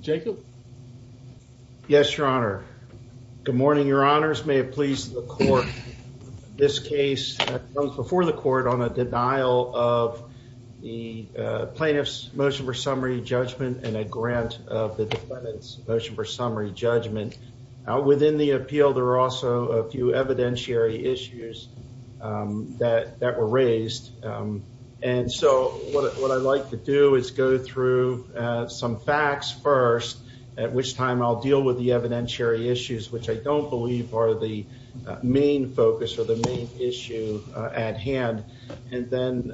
Jacob yes your honor good morning your honors may it please the court this case before the court on a denial of the plaintiffs motion for summary judgment and a grant of the defendant's motion for summary judgment within the appeal there are also a few evidentiary issues that that were raised and so what I'd do is go through some facts first at which time I'll deal with the evidentiary issues which I don't believe are the main focus or the main issue at hand and then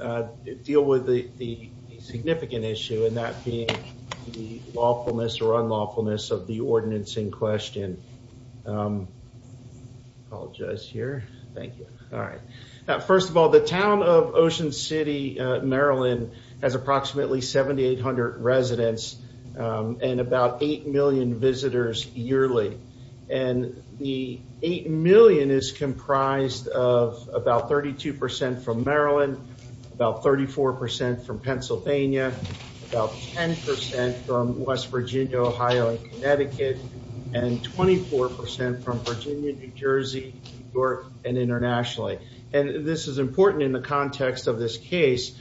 deal with the significant issue and that being the lawfulness or unlawfulness of the ordinance in question apologize here thank you all the town of Ocean City Maryland has approximately 7800 residents and about 8 million visitors yearly and the 8 million is comprised of about 32% from Maryland about 34% from Pennsylvania about 10% from West Virginia Ohio Connecticut and 24% from Virginia New Jersey York and internationally and this is important in the context of this case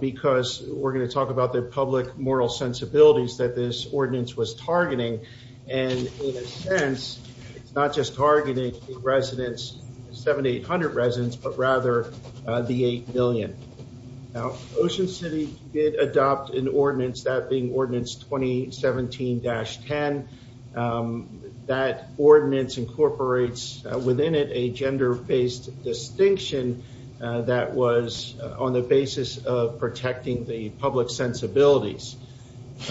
because we're going to talk about the public moral sensibilities that this ordinance was targeting and in a sense it's not just targeting residents 7800 residents but rather the 8 million now Ocean City did adopt an ordinance that being ordinance 2017-10 that ordinance incorporates within it a gender-based distinction that was on the basis of protecting the public sensibilities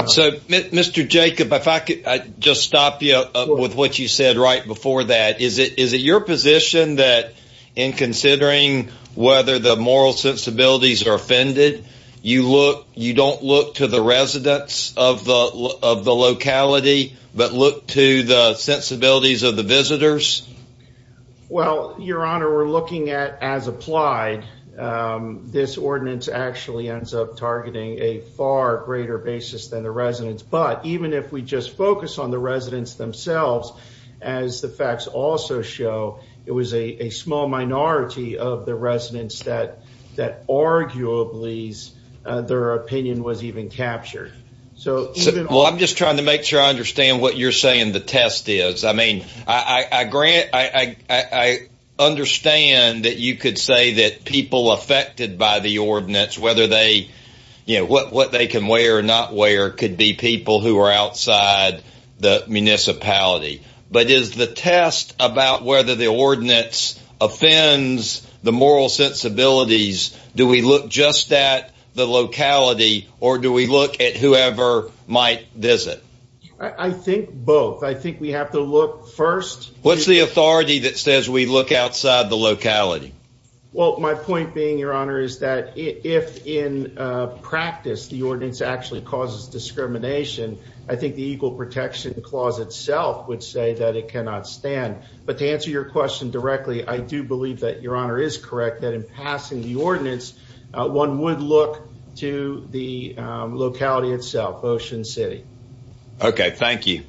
so mr. Jacob if I could just stop you with what you said right before that is it is it your position that in considering whether the moral sensibilities are offended you look you don't look to the well your honor we're looking at as applied this ordinance actually ends up targeting a far greater basis than the residents but even if we just focus on the residents themselves as the facts also show it was a small minority of the residents that that arguably their opinion was even captured so well I'm just trying to make sure I understand what you're saying the test is I mean I grant I understand that you could say that people affected by the ordinance whether they you know what what they can wear or not wear could be people who are outside the municipality but is the test about whether the ordinance offends the moral sensibilities do we look just at the locality or do we look at whoever might visit I think both I think we have to look first what's the authority that says we look outside the locality well my point being your honor is that if in practice the ordinance actually causes discrimination I think the equal protection clause itself would say that it cannot stand but to answer your question directly I do believe that your honor is correct that in passing the okay thank you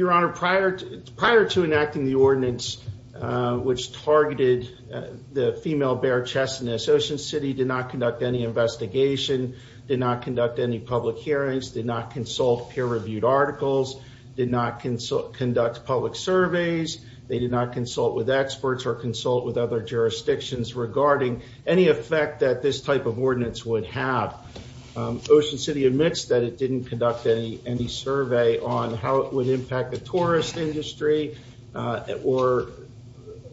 your honor prior to prior to enacting the ordinance which targeted the female bear chest in this Ocean City did not conduct any investigation did not conduct any public hearings did not consult peer-reviewed articles did not consult conduct public surveys they did not consult with experts or consult with would have Ocean City admits that it didn't conduct any any survey on how it would impact the tourist industry or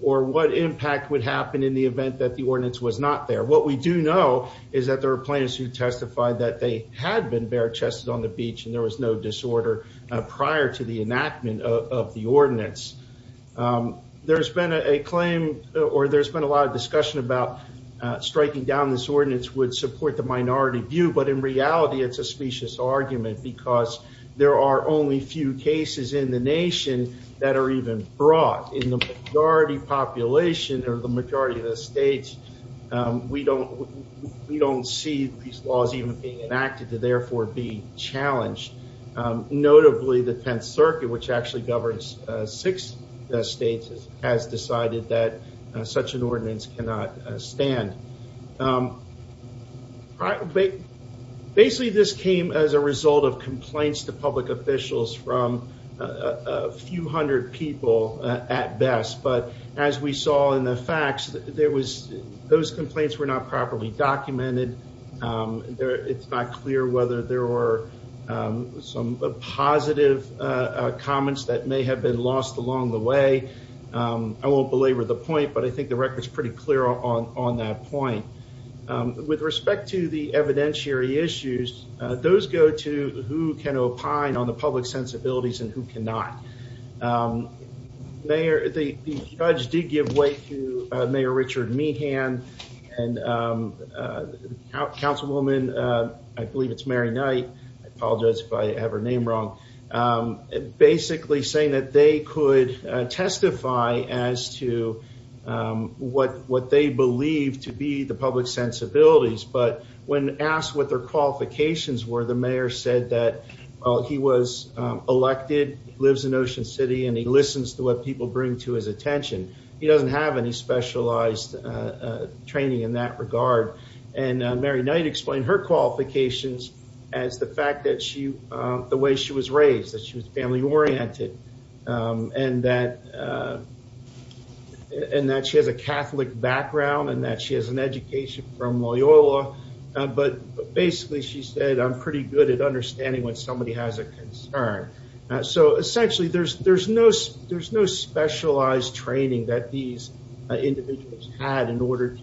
or what impact would happen in the event that the ordinance was not there what we do know is that there are plaintiffs who testified that they had been bare-chested on the beach and there was no disorder prior to the enactment of the ordinance there's been a claim or there's been a lot of discussion about striking down this ordinance would support the minority view but in reality it's a specious argument because there are only few cases in the nation that are even brought in the majority population or the majority of the states we don't we don't see these laws even being enacted to therefore be challenged notably the 10th Circuit which actually governs six states has decided that such an ordinance cannot stand basically this came as a result of complaints to public officials from a few hundred people at best but as we saw in the facts there was those complaints were not properly documented there it's not clear whether there were some positive comments that may have been lost along the way I won't belabor the point but I think the record is pretty clear on on that point with respect to the evidentiary issues those go to who can opine on the public sensibilities and who cannot mayor the judge did give way to Mayor Richard Meehan and councilwoman I believe it's Mary Knight I apologize if I have her name wrong basically saying that they could testify as to what what they believe to be the public sensibilities but when asked what their qualifications were the mayor said that he was elected lives in Ocean City and he listens to what people bring to his attention he doesn't have any specialized training in that regard and Mary Knight explained her qualifications as the fact that she the way she was raised that she was family-oriented and that and that she has a Catholic background and that she has an education from Loyola but basically she said I'm pretty good at understanding when somebody has a concern so essentially there's there's no there's no specialized training that these individuals had in order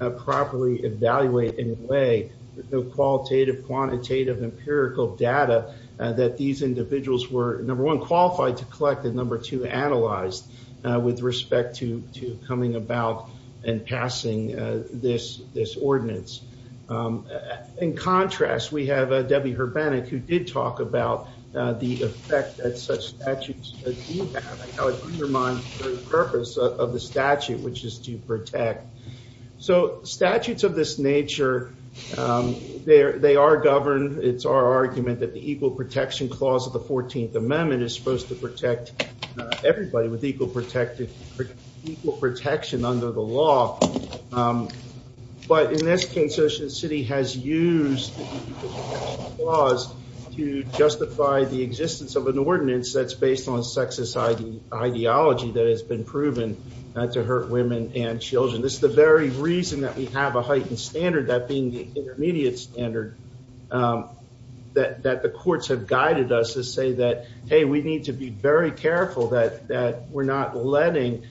to properly evaluate in a way the qualitative quantitative empirical data that these individuals were number one qualified to collect and number two analyzed with respect to to coming about and passing this this ordinance in contrast we have a Debbie her panic who the purpose of the statute which is to protect so statutes of this nature there they are governed it's our argument that the Equal Protection Clause of the 14th Amendment is supposed to protect everybody with equal protected protection under the law but in this case Ocean City has used laws to justify the existence of an ordinance that's based on sexist ID ideology that has been proven not to hurt women and children this is the very reason that we have a heightened standard that being the intermediate standard that that the courts have guided us to say that hey we need to be very careful that that we're not letting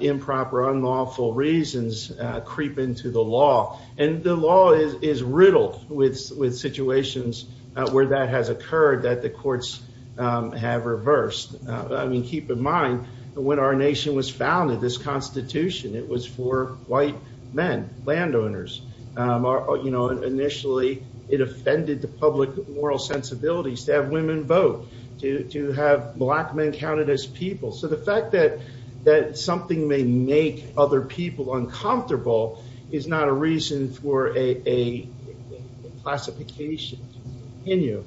improper unlawful reasons creep into the law and the law is is riddled with with situations where that has occurred that the courts have reversed I mean keep in mind when our nation was founded this Constitution it was for white men landowners are you know initially it offended the public moral sensibilities to have women vote to have black men counted as people so the fact that that something may make other people uncomfortable is not a reason for a classification in you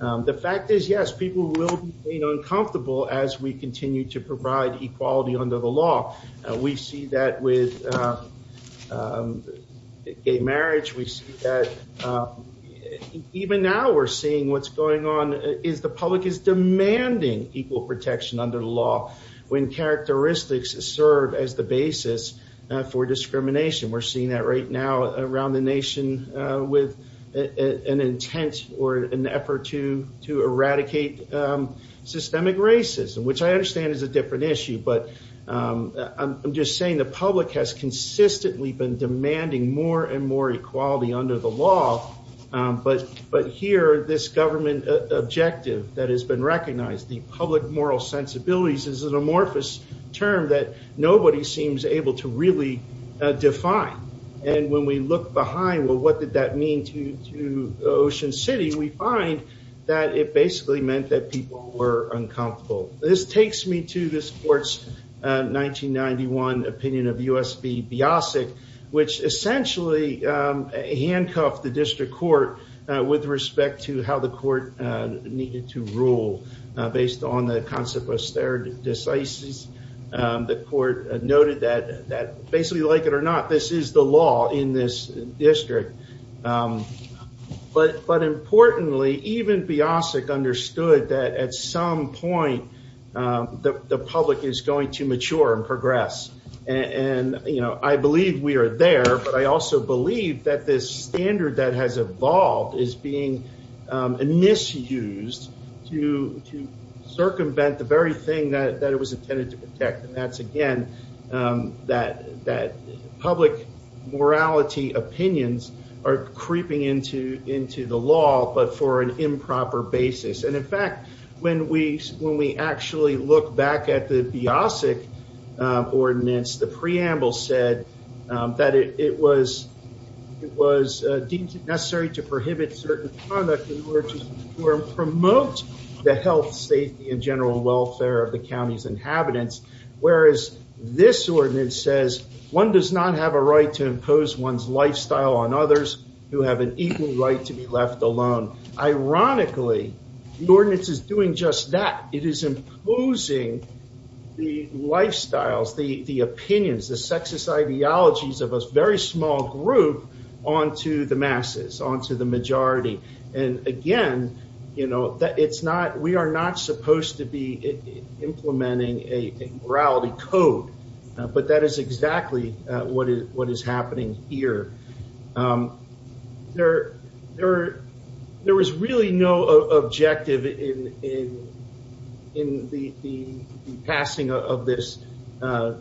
the fact is yes people will be uncomfortable as we continue to provide equality under the law we see that with a marriage we see that even now we're seeing what's going on is the public is demanding equal protection under the law when characteristics serve as the basis for discrimination we're seeing that right now around the nation with an intent or an effort to to eradicate systemic racism which I understand is a different issue but I'm just saying the public has consistently been demanding more and more equality under the law but but here this government objective that has been recognized the public moral sensibilities is an amorphous term that nobody seems able to really define and when we look behind well what did that mean to to Ocean City we find that it basically meant that people were uncomfortable this takes me to this court's 1991 opinion of USB Biasic which essentially handcuffed the district court with respect to how the court needed to rule based on the concept of stared decisive the court noted that that basically like it or not this is the law in this district but but importantly even Biasic understood that at some point the public is going to mature and progress and you know I believe we are there but I also believe that this standard that has evolved is being misused to circumvent the very thing that it was intended to protect and that's again that that public morality opinions are creeping into into the law but for an improper basis and in fact when we when we actually look back at the Biasic ordinance the preamble said that it was it was deemed necessary to prohibit certain conduct in order to promote the health safety and general welfare of the county's inhabitants whereas this ordinance says one does not have a right to impose one's lifestyle on others who have an equal right to be left alone ironically the ordinance is doing just that it is imposing the lifestyles the opinions the sexist ideologies of us very small group on to the masses on to the majority and again you know that it's not we are not supposed to be implementing a morality code but that is exactly what is what is happening here there there there was really no objective in in the passing of this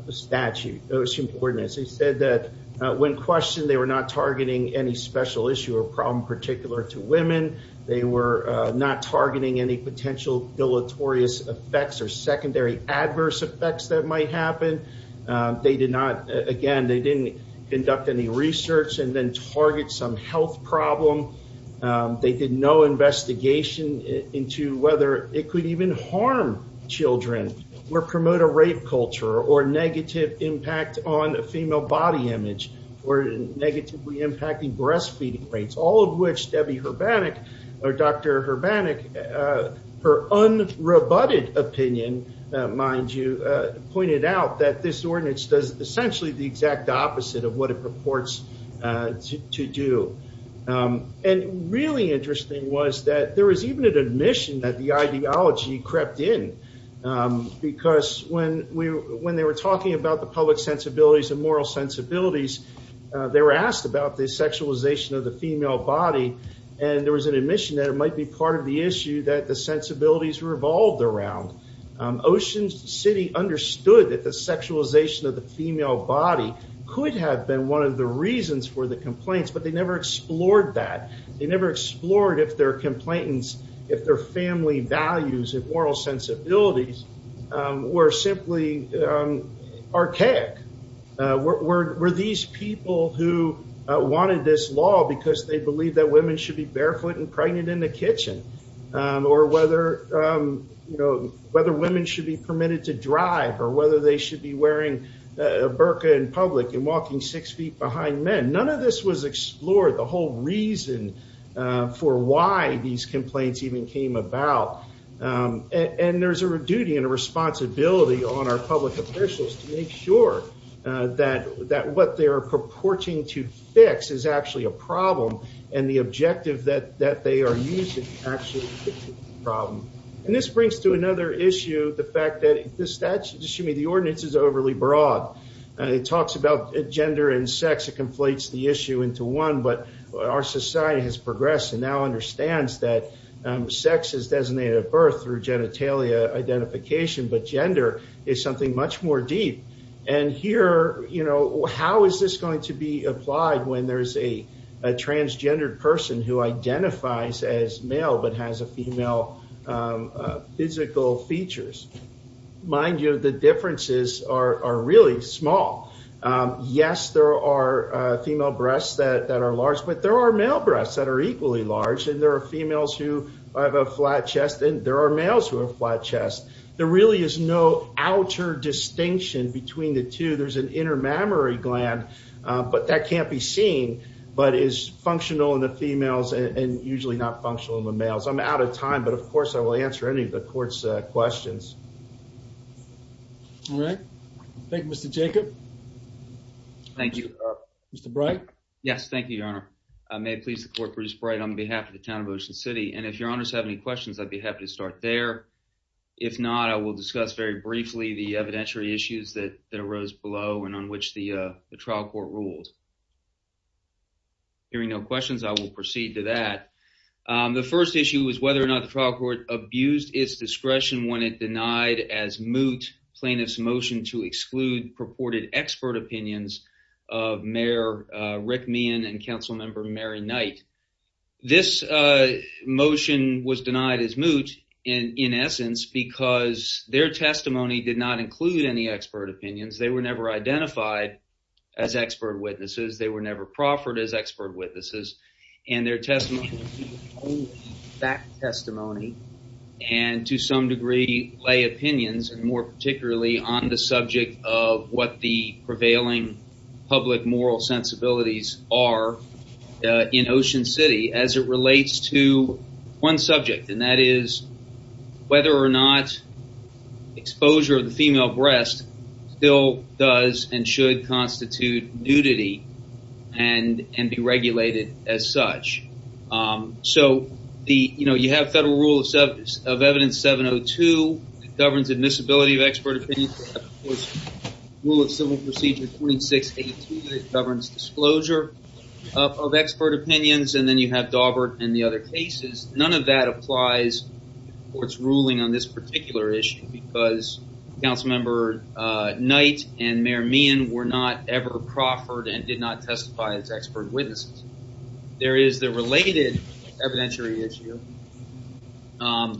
statute those two coordinates he said that when questioned they were not targeting any special issue or problem particular to women they were not targeting any potential deleterious effects or secondary adverse effects that might happen they did not again they didn't conduct any research and then target some health problem they did no investigation into whether it could even harm children or promote a rape culture or negative impact on a female body image or negatively impacting breastfeeding rates all of which Debbie Herbannick or Dr. Herbannick her unroboted opinion mind you pointed out that this ordinance does essentially the exact opposite of what it purports to do and really interesting was that there is even an admission that the ideology crept in because when we when they were talking about the public sensibilities and moral sensibilities they were asked about the sexualization of the female body and there was an admission that it might be part of the issue that the sensibilities revolved around Ocean City understood that the sexualization of the female body could have been one of the reasons for the complaints but they never explored that they never explored if their complainants if their family values and moral sensibilities were simply archaic were these people who wanted this law because they believe that women should be barefoot and pregnant in the kitchen or whether you they should be wearing a burka in public and walking six feet behind men none of this was explored the whole reason for why these complaints even came about and there's a duty and a responsibility on our public officials to make sure that that what they are purporting to fix is actually a problem and the objective that that they are using actually problem and this brings to another issue the fact that this that's assuming the ordinance is overly broad and it talks about gender and sex it conflates the issue into one but our society has progressed and now understands that sex is designated at birth through genitalia identification but gender is something much more deep and here you know how is this going to be applied when there's a transgendered person who mind you the differences are are really small yes there are female breasts that that are large but there are male breasts that are equally large and there are females who have a flat chest and there are males who have flat chest there really is no outer distinction between the two there's an inner mammary gland but that can't be seen but is functional in the females and usually not functional in the males i'm out of time but of course i will answer any of the questions all right thank you mr jacob thank you mr bright yes thank you your honor i may please the court produce bright on behalf of the town of ocean city and if your honors have any questions i'd be happy to start there if not i will discuss very briefly the evidentiary issues that that arose below and on which the uh the trial court rules hearing no questions i will proceed to that the first issue was whether or not the trial court abused its discretion when it denied as moot plaintiff's motion to exclude purported expert opinions of mayor rick mian and council member mary knight this uh motion was denied as moot and in essence because their testimony did not include any expert opinions they were never identified as expert witnesses they were never proffered as expert witnesses and their testimony only fact testimony and to some degree lay opinions and more particularly on the subject of what the prevailing public moral sensibilities are in ocean city as it relates to one subject and that is whether or not exposure of the female breast still does and should so the you know you have federal rule of substance of evidence 702 it governs admissibility of expert opinions rule of civil procedure 2682 it governs disclosure of expert opinions and then you have daubert and the other cases none of that applies for its ruling on this particular issue because council member uh knight and mayor mian were not ever proffered and did not testify as expert witnesses there is the related evidentiary issue um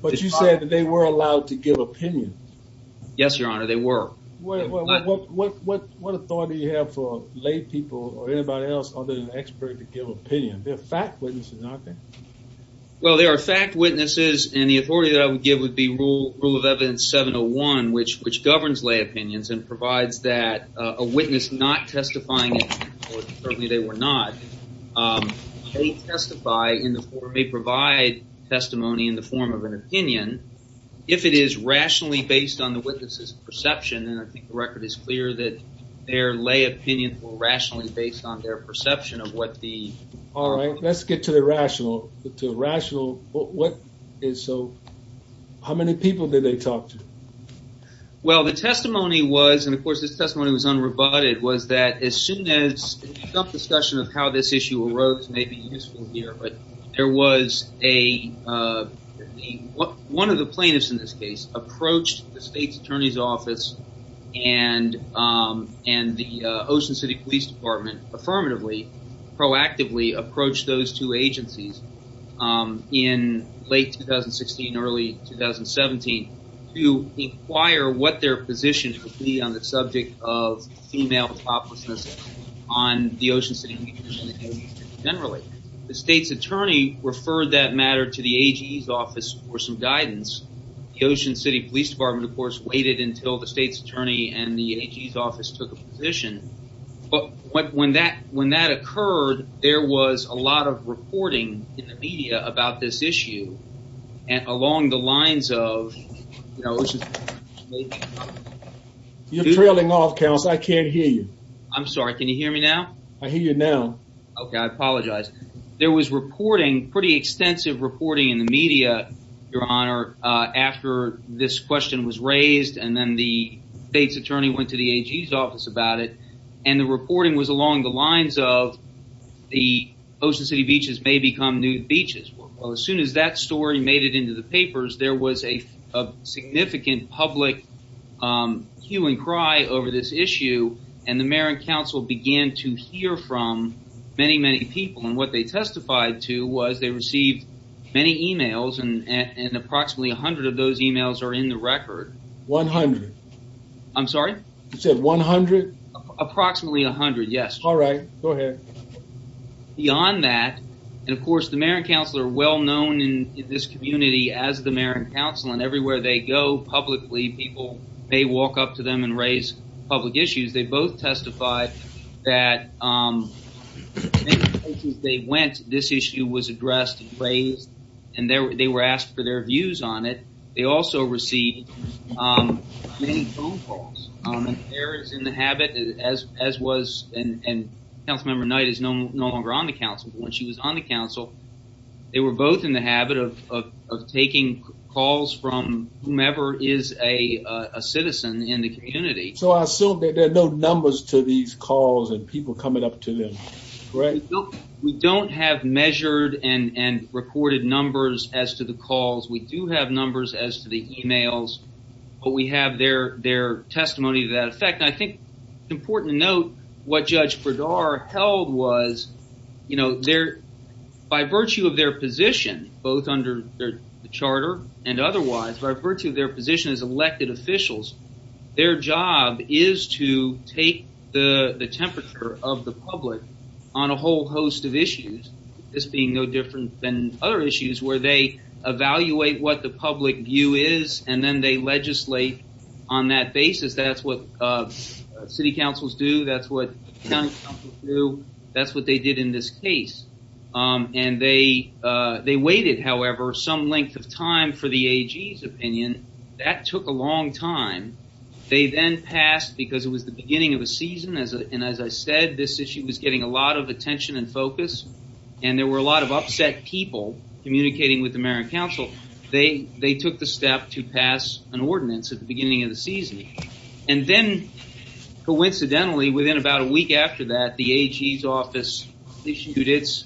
but you said that they were allowed to give opinion yes your honor they were what what what what authority you have for lay people or anybody else other than expert to give opinion they're fact witnesses aren't they well there are fact witnesses and the authority that i would give rule rule of evidence 701 which which governs lay opinions and provides that a witness not testifying or certainly they were not um they testify in the form they provide testimony in the form of an opinion if it is rationally based on the witness's perception and i think the record is clear that their lay opinion will rationally based on their perception of what the all right let's get to the rational to rational what is so how many people did they talk to well the testimony was and of course this testimony was unrebutted was that as soon as self-discussion of how this issue arose may be useful here but there was a uh one of the plaintiffs in this case approached the state's attorney's office and um and the uh ocean city police department affirmatively proactively approached those two agencies um in late 2016 early 2017 to inquire what their position would be on the subject of female toplessness on the ocean city generally the state's attorney referred that matter to the ag's office for some guidance the ocean city police department of course waited until the state's attorney and the ag's office took a position but when that when that occurred there was a lot of reporting in the media about this issue and along the lines of you know you're trailing off council i can't hear you i'm sorry can you hear me now i hear you now okay i apologize there was reporting pretty extensive reporting in the media your honor uh after this question was raised and then the state's attorney went to the ag's office about it and the reporting was along the lines of the ocean city beaches may become nude beaches well as soon as that story made it into the papers there was a significant public um hue and cry over this issue and the mayor and council began to hear from many many people and what they testified to was they received many emails and and approximately 100 of those emails are in the record 100 i'm sorry you said 100 approximately 100 yes all right go ahead beyond that and of course the mayor and council are well known in this community as the mayor and council and everywhere they go publicly people may walk up to them and raise public issues they both testified that um they went this issue was addressed and raised and they were asked for their views on it they also received um many phone calls um there is in the habit as as was and and council member knight is no longer on the council when she was on the council they were both in the habit of of taking calls from whomever is a a citizen in the community so i assume that there are no numbers to these calls and people coming up to them right we don't have measured and and recorded numbers as to the calls we do have numbers as to the emails but we have their their testimony to that effect i think it's important to note what judge bradar held was you know their by virtue of their position both under the charter and otherwise by virtue of their position as elected officials their job is to take the the temperature of the on a whole host of issues this being no different than other issues where they evaluate what the public view is and then they legislate on that basis that's what uh city councils do that's what county council do that's what they did in this case um and they uh they waited however some length of time for the ag's opinion that took a long time they then passed because it was the beginning of a season as a and as i said this issue was getting a lot of attention and focus and there were a lot of upset people communicating with the mayor and council they they took the step to pass an ordinance at the beginning of the season and then coincidentally within about a week after that the ag's office issued its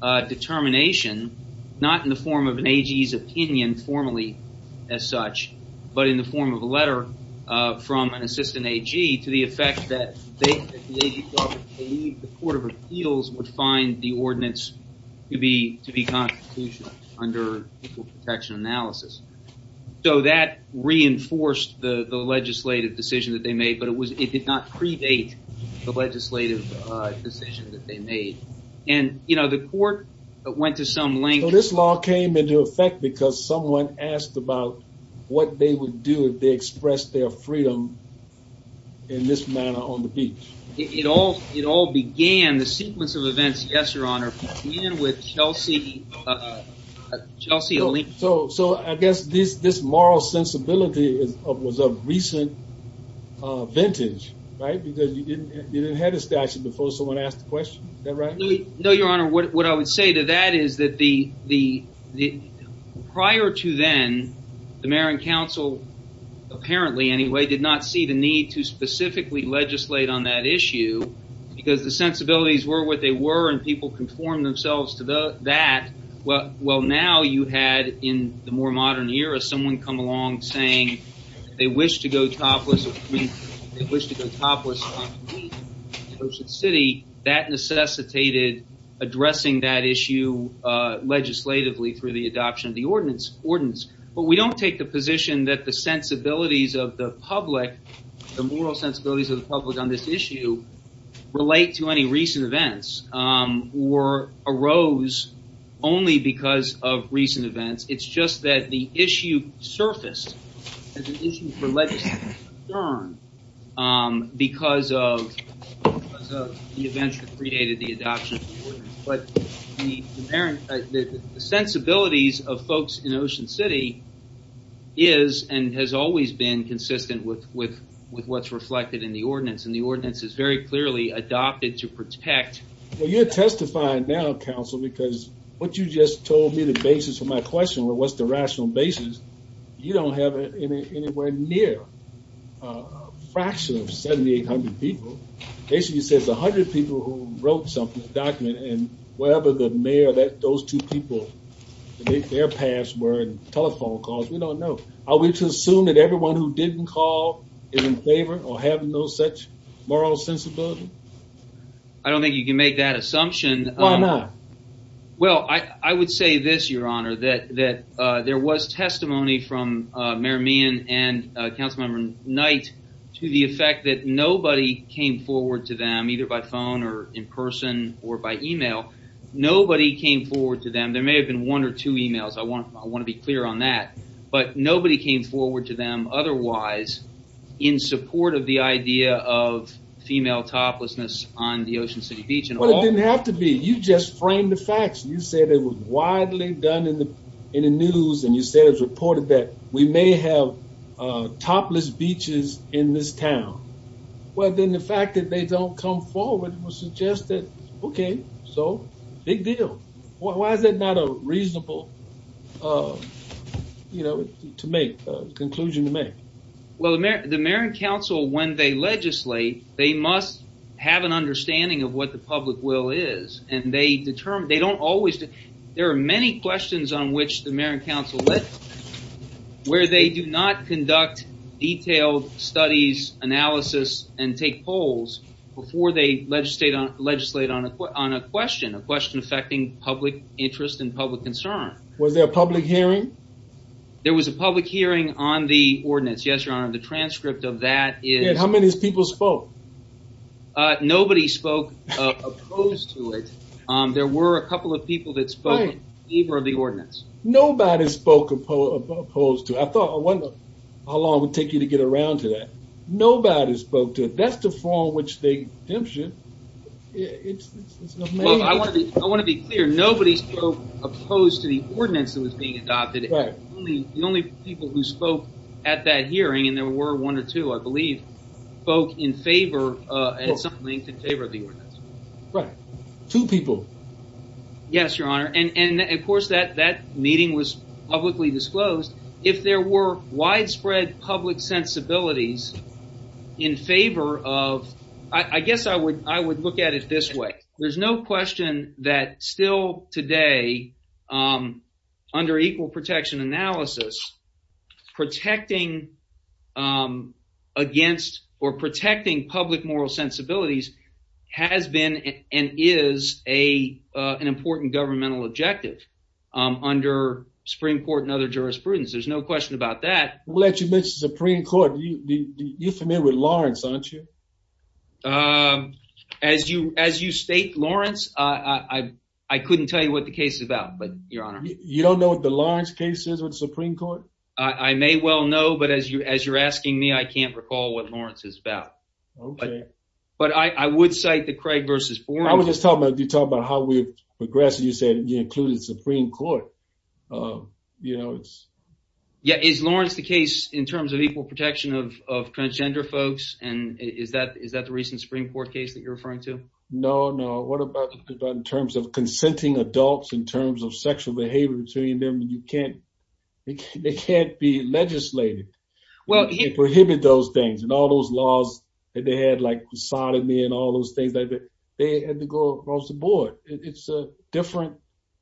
uh determination not in form of an ag's opinion formally as such but in the form of a letter uh from an assistant ag to the effect that they believe the court of appeals would find the ordinance to be to be constitutional under protection analysis so that reinforced the the legislative decision that they made but it was it did not predate the legislative uh decision that they made and you know the court went to so this law came into effect because someone asked about what they would do if they expressed their freedom in this manner on the beach it all it all began the sequence of events yes your honor with chelsea uh chelsea so so i guess this this moral sensibility is of was a recent uh vintage right because you didn't you didn't have a statute before someone asked the question is that right no your honor what i would say to that is that the the the prior to then the mayor and council apparently anyway did not see the need to specifically legislate on that issue because the sensibilities were what they were and people conformed themselves to the that well well now you had in the more modern era someone come along saying they wish to go they wish to go topless city that necessitated addressing that issue uh legislatively through the adoption of the ordinance ordinance but we don't take the position that the sensibilities of the public the moral sensibilities of the public on this issue relate to any recent events or arose only because of recent events it's just that the issue surfaced as an issue for concern um because of because of the events that predated the adoption of the ordinance but the parent the sensibilities of folks in ocean city is and has always been consistent with with with what's reflected in the ordinance and the ordinance is very clearly adopted to protect well you're testifying now council because what you just told me the basis for my question what's the rational basis you don't have any anywhere near a fraction of 7800 people basically says 100 people who wrote something documented and whatever the mayor that those two people their paths were and telephone calls we don't know are we to assume that everyone who didn't call is in favor or have no such moral sensibility i don't think you can make that assumption why not well i i would say this your honor that that uh there was testimony from uh mayor mian and councilmember knight to the effect that nobody came forward to them either by phone or in person or by email nobody came forward to them there may have been one or two emails i want i want to be clear on that but nobody came forward to them otherwise in support of the idea of female toplessness on the ocean city beach and it didn't have to be you just framed the facts you said it was widely done in the in the news and you said it was reported that we may have uh topless beaches in this town well then the fact that they don't come forward will suggest that okay so big deal why is that not a reasonable uh you know to make a conclusion to make well the mayor the mayor and when they legislate they must have an understanding of what the public will is and they determine they don't always there are many questions on which the mayor and council where they do not conduct detailed studies analysis and take polls before they legislate on legislate on a on a question a question affecting public interest and public concern was there a public hearing there was a public hearing on the ordinance yes your honor the and how many people spoke uh nobody spoke uh opposed to it um there were a couple of people that spoke either of the ordinance nobody spoke opposed to i thought i wonder how long it would take you to get around to that nobody spoke to it that's the form which they dims you i want to be i want to be clear nobody spoke opposed to the ordinance that was being adopted the only people who spoke at that hearing and there were one or two i believe spoke in favor uh at some length in favor of the ordinance right two people yes your honor and and of course that that meeting was publicly disclosed if there were widespread public sensibilities in favor of i i guess i would i would look at it this way there's no question that still today um under equal protection analysis protecting um against or protecting public moral sensibilities has been and is a uh an important governmental objective under supreme court and other jurisprudence there's no question about that we'll let you court you you're familiar with lawrence aren't you um as you as you state lawrence uh i i couldn't tell you what the case is about but your honor you don't know what the lawrence case is with supreme court i i may well know but as you as you're asking me i can't recall what lawrence is about okay but i i would cite the craig versus i was just talking about you talking about how we progressed you said you included supreme court um you know it's yeah is lawrence the case in terms of equal protection of of transgender folks and is that is that the recent supreme court case that you're referring to no no what about in terms of consenting adults in terms of sexual behavior between them you can't they can't be legislated well you prohibit those things and all those laws that they had like sodomy and all those things like that they had to go across the different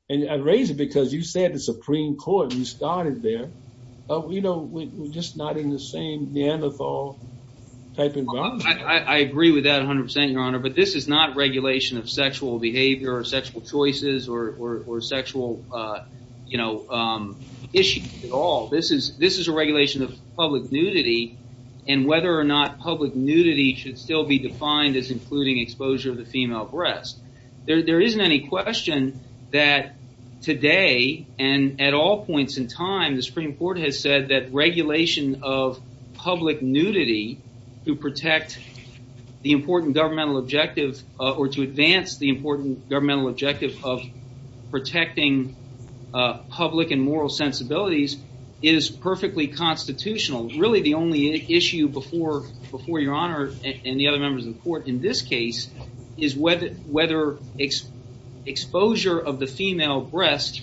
and i'd raise it because you said the supreme court you started there oh you know we're just not in the same neanderthal type environment i i agree with that 100 your honor but this is not regulation of sexual behavior or sexual choices or or sexual uh you know um issues at all this is this is a regulation of public nudity and whether or not public nudity should still be defined as including exposure of the female breast there isn't any question that today and at all points in time the supreme court has said that regulation of public nudity to protect the important governmental objectives or to advance the important governmental objective of protecting uh public and moral sensibilities is perfectly constitutional really the only issue before before your honor and the other members of the court in this case is whether whether exposure of the female breast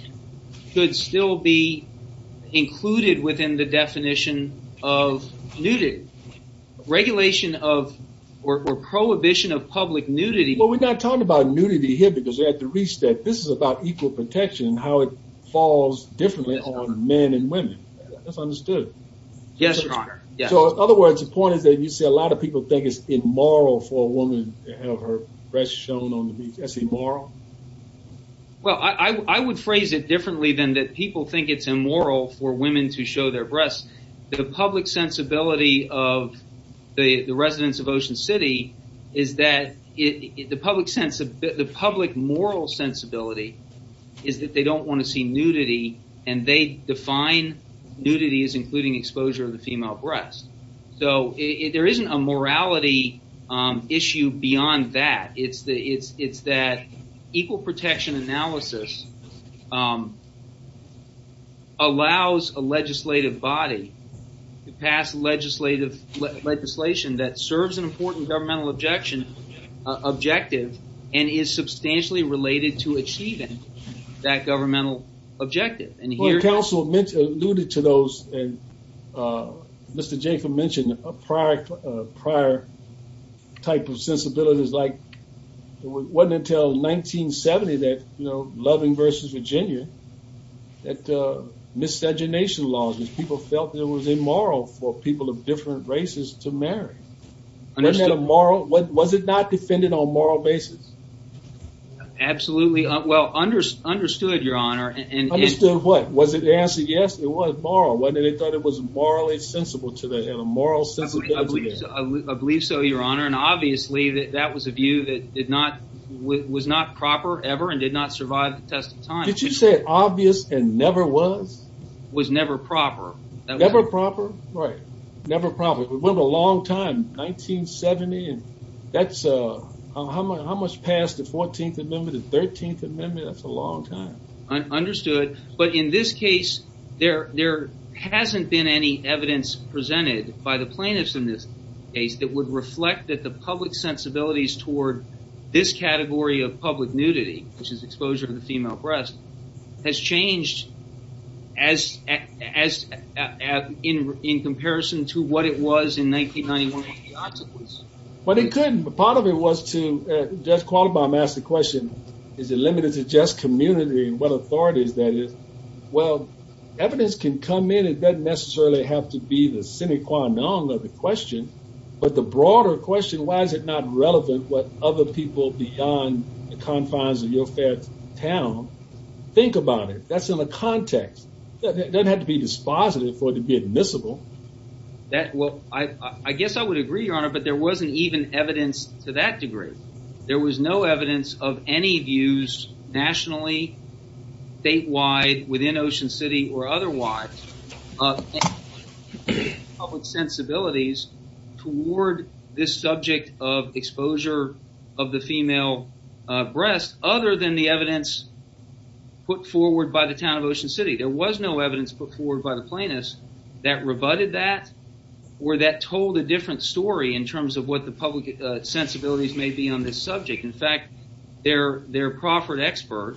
could still be included within the definition of nudity regulation of or prohibition of public nudity well we're not talking about nudity here because they have to reach that this is about equal protection how it falls differently on men and you see a lot of people think it's immoral for a woman to have her breast shown on the beach that's immoral well i i would phrase it differently than that people think it's immoral for women to show their breasts the public sensibility of the the residents of ocean city is that it the public sense of the public moral sensibility is that they don't want to see nudity and they define nudity is including exposure of the female breast so there isn't a morality issue beyond that it's the it's it's that equal protection analysis um allows a legislative body to pass legislative legislation that serves an important governmental objection objective and is substantially related to achieving that governmental objective and here counsel mentioned alluded to those and uh mr jayford mentioned a prior uh prior type of sensibilities like it wasn't until 1970 that you know loving versus virginia that uh miscegenation laws people felt it was immoral for people of different races to marry was it not defended on moral basis absolutely well under understood your honor and understood what was it the answer yes it was moral whether they thought it was morally sensible to the head of moral sensibility i believe so your honor and obviously that that was a view that did not was not proper ever and did not survive the test of time did you say it obvious and never was was never proper never proper right never probably we went a long time 1970 and that's uh how much passed the 14th amendment the 13th amendment that's a long time understood but in this case there there hasn't been any evidence presented by the plaintiffs in this case that would reflect that the public sensibilities toward this category of public nudity which is exposure to the female breast has changed as as as in in comparison to what it was in 1991 but it couldn't but part of it was to judge qualibum asked the question is it limited to just community and what authorities that is well evidence can come in it doesn't necessarily have to be the sine qua non of the question but the broader question why is it not relevant what other people beyond the confines of your fair town think about it that's in the context it doesn't have to be dispositive for it to be admissible that well i i guess i would agree your honor but there wasn't even evidence to that degree there was no evidence of any views nationally statewide within ocean city or otherwise public sensibilities toward this subject of exposure of the female breast other than the evidence put forward by the town of ocean city there was no evidence put forward by the plaintiffs that rebutted that or that told a different story in terms of what the public sensibilities may be on this subject in fact their their proffered expert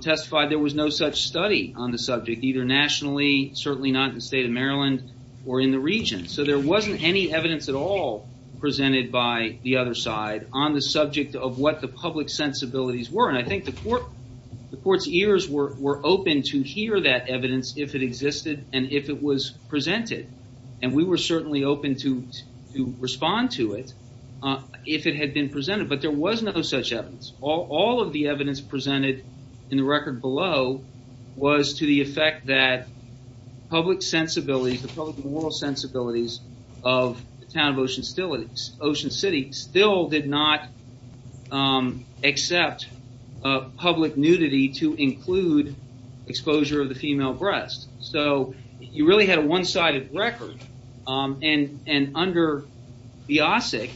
testified there was no such study on the subject either nationally certainly not in the state of maryland or in the region so there wasn't any evidence at all presented by the other side on the subject of what the public sensibilities were i think the court the court's ears were were open to hear that evidence if it existed and if it was presented and we were certainly open to to respond to it uh if it had been presented but there was no such evidence all all of the evidence presented in the record below was to the effect that public sensibilities the public moral sensibilities of the town of ocean still it's ocean city still did not um accept a public nudity to include exposure of the female breast so you really had a one-sided record um and and under biasec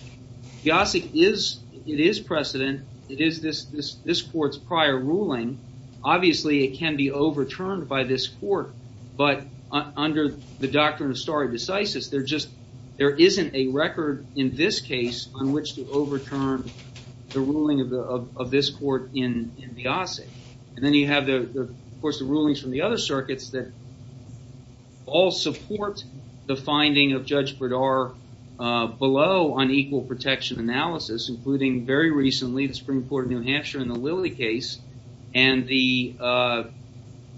biasec is it is precedent it is this this this court's prior ruling obviously it can be overturned by this court but under the doctrine of stare decisis there just there isn't a record in this case on which to overturn the ruling of the of this court in in biasec and then you have the of course the rulings from the other circuits that all support the finding of judge bradar uh below on equal protection analysis including very recently the spring court of new hampshire in the lily case and the uh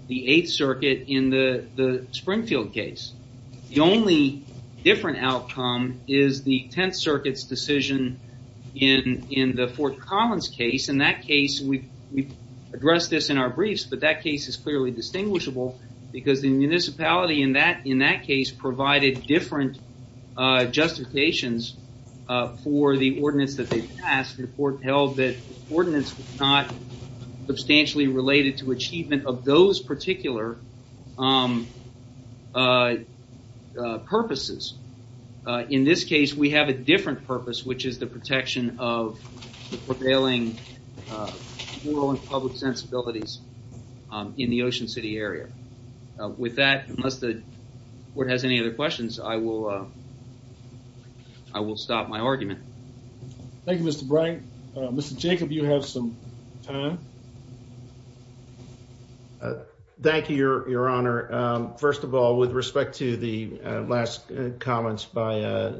the eighth circuit in the the springfield case the only different outcome is the tenth circuit's decision in in the fort collins case in that case we we addressed this in our briefs but that case is clearly distinguishable because the municipality in that in that case provided different uh justifications uh for the ordinance that they passed the court held that ordinance was not substantially related to achievement of those particular um uh purposes in this case we have a different purpose which is the protection of the prevailing rural and public sensibilities in the ocean city area with that unless the court has any other questions i will uh i will stop my argument thank you mr bright mr jacob you have some time thank you your your honor um first of all with respect to the last comments by uh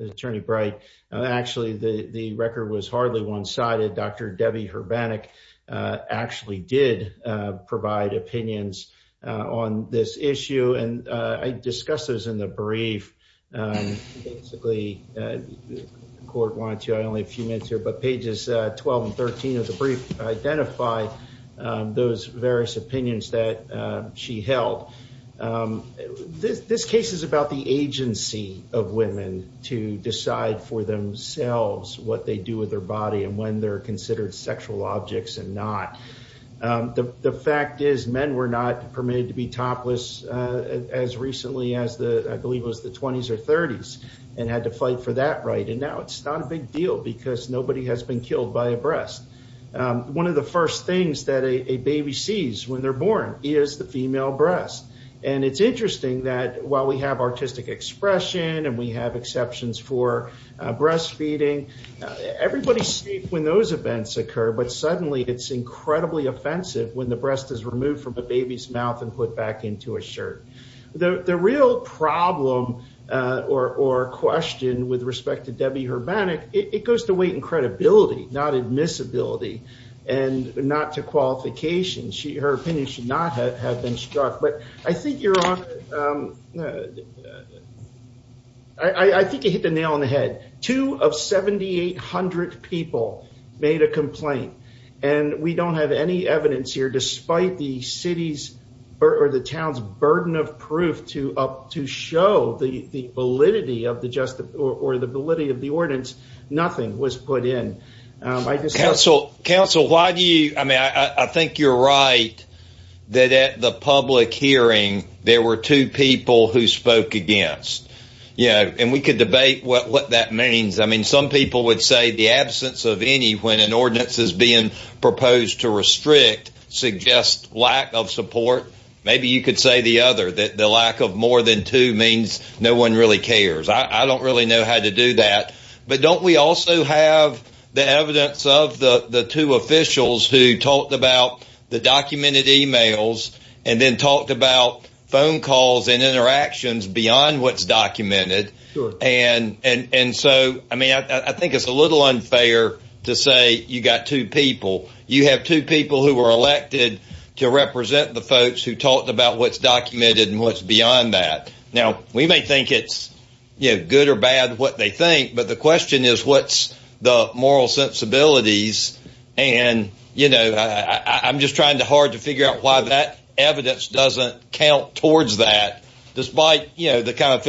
attorney bright actually the the record was hardly one-sided dr debbie urbanic uh actually did uh provide opinions uh on this issue and uh i discussed those in the brief um basically the court wanted to i only a few minutes here but pages 12 and 13 of the brief identify those various opinions that she held this this case is about the agency of women to decide for themselves what they do with their body and when they're considered sexual objects and not the the fact is men were not permitted to be topless as recently as the i believe was the 1920s or 30s and had to fight for that right and now it's not a big deal because nobody has been killed by a breast um one of the first things that a baby sees when they're born is the female breast and it's interesting that while we have artistic expression and we have exceptions for breastfeeding everybody's safe when those events occur but suddenly it's incredibly offensive when breast is removed from a baby's mouth and put back into a shirt the the real problem uh or or question with respect to debbie urbanic it goes to weight and credibility not admissibility and not to qualification she her opinion should not have been struck but i think you're on i i think it hit the nail on the head two of 7 800 people made a complaint and we don't have any evidence here despite the city's or the town's burden of proof to up to show the the validity of the justice or the validity of the ordinance nothing was put in um i just counsel counsel why do you i mean i i think you're right that at the public hearing there were two people who spoke against you know and we could debate what what that means i mean some people would say the absence of any when an ordinance is being proposed to restrict suggest lack of support maybe you could say the other that the lack of more than two means no one really cares i i don't really know how to do that but don't we also have the evidence of the the two officials who talked about the documented emails and then talked about phone calls and interactions beyond what's to say you got two people you have two people who were elected to represent the folks who talked about what's documented and what's beyond that now we may think it's you know good or bad what they think but the question is what's the moral sensibilities and you know i i'm just trying to hard to figure out why that evidence doesn't count towards that despite you know the kind of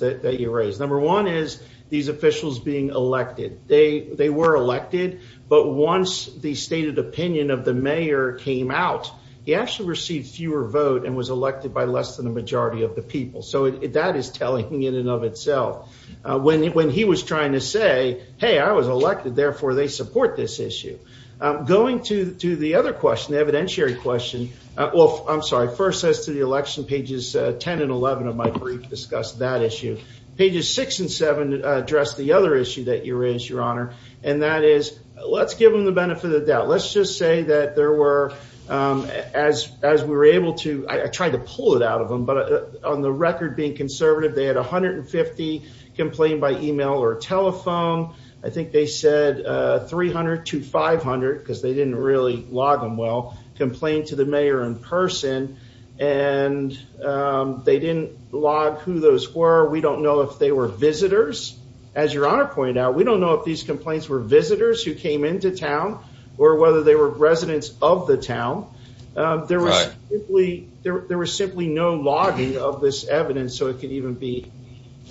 that you raised number one is these officials being elected they they were elected but once the stated opinion of the mayor came out he actually received fewer vote and was elected by less than the majority of the people so that is telling in and of itself when when he was trying to say hey i was elected therefore they support this issue um going to to the other question evidentiary question uh well i'm sorry first says to the election pages 10 and 11 of my brief discussed that issue pages six and seven address the other issue that you raise your honor and that is let's give them the benefit of the doubt let's just say that there were um as as we were able to i tried to pull it out of them but on the record being conservative they had 150 complained by email or telephone i think they said uh 300 to 500 because they didn't really log them well in person and um they didn't log who those were we don't know if they were visitors as your honor pointed out we don't know if these complaints were visitors who came into town or whether they were residents of the town um there was simply there was simply no logging of this evidence so it could even be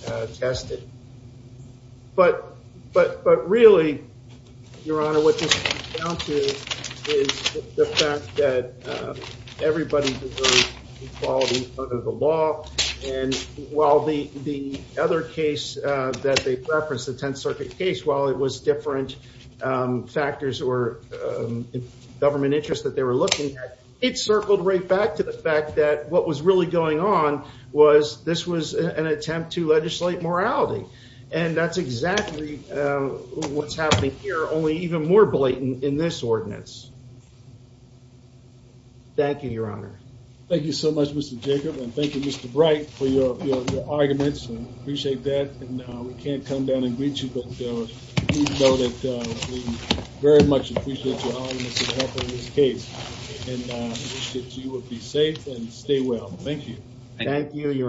uh tested but but but really your honor what this comes down to is the fact that everybody deserves equality under the law and while the the other case uh that they referenced the 10th circuit case while it was different um factors or um government interest that they were looking at it circled right back to the fact that what was really going on was this was an attempt to legislate morality and that's exactly um what's happening here only even more blatant in this ordinance thank you your honor thank you so much mr jacob and thank you mr bright for your your arguments and appreciate that and uh we can't come down and greet you but uh please know that uh we very much appreciate your honor in this case and uh you will be safe and stay well thank you thank you your honor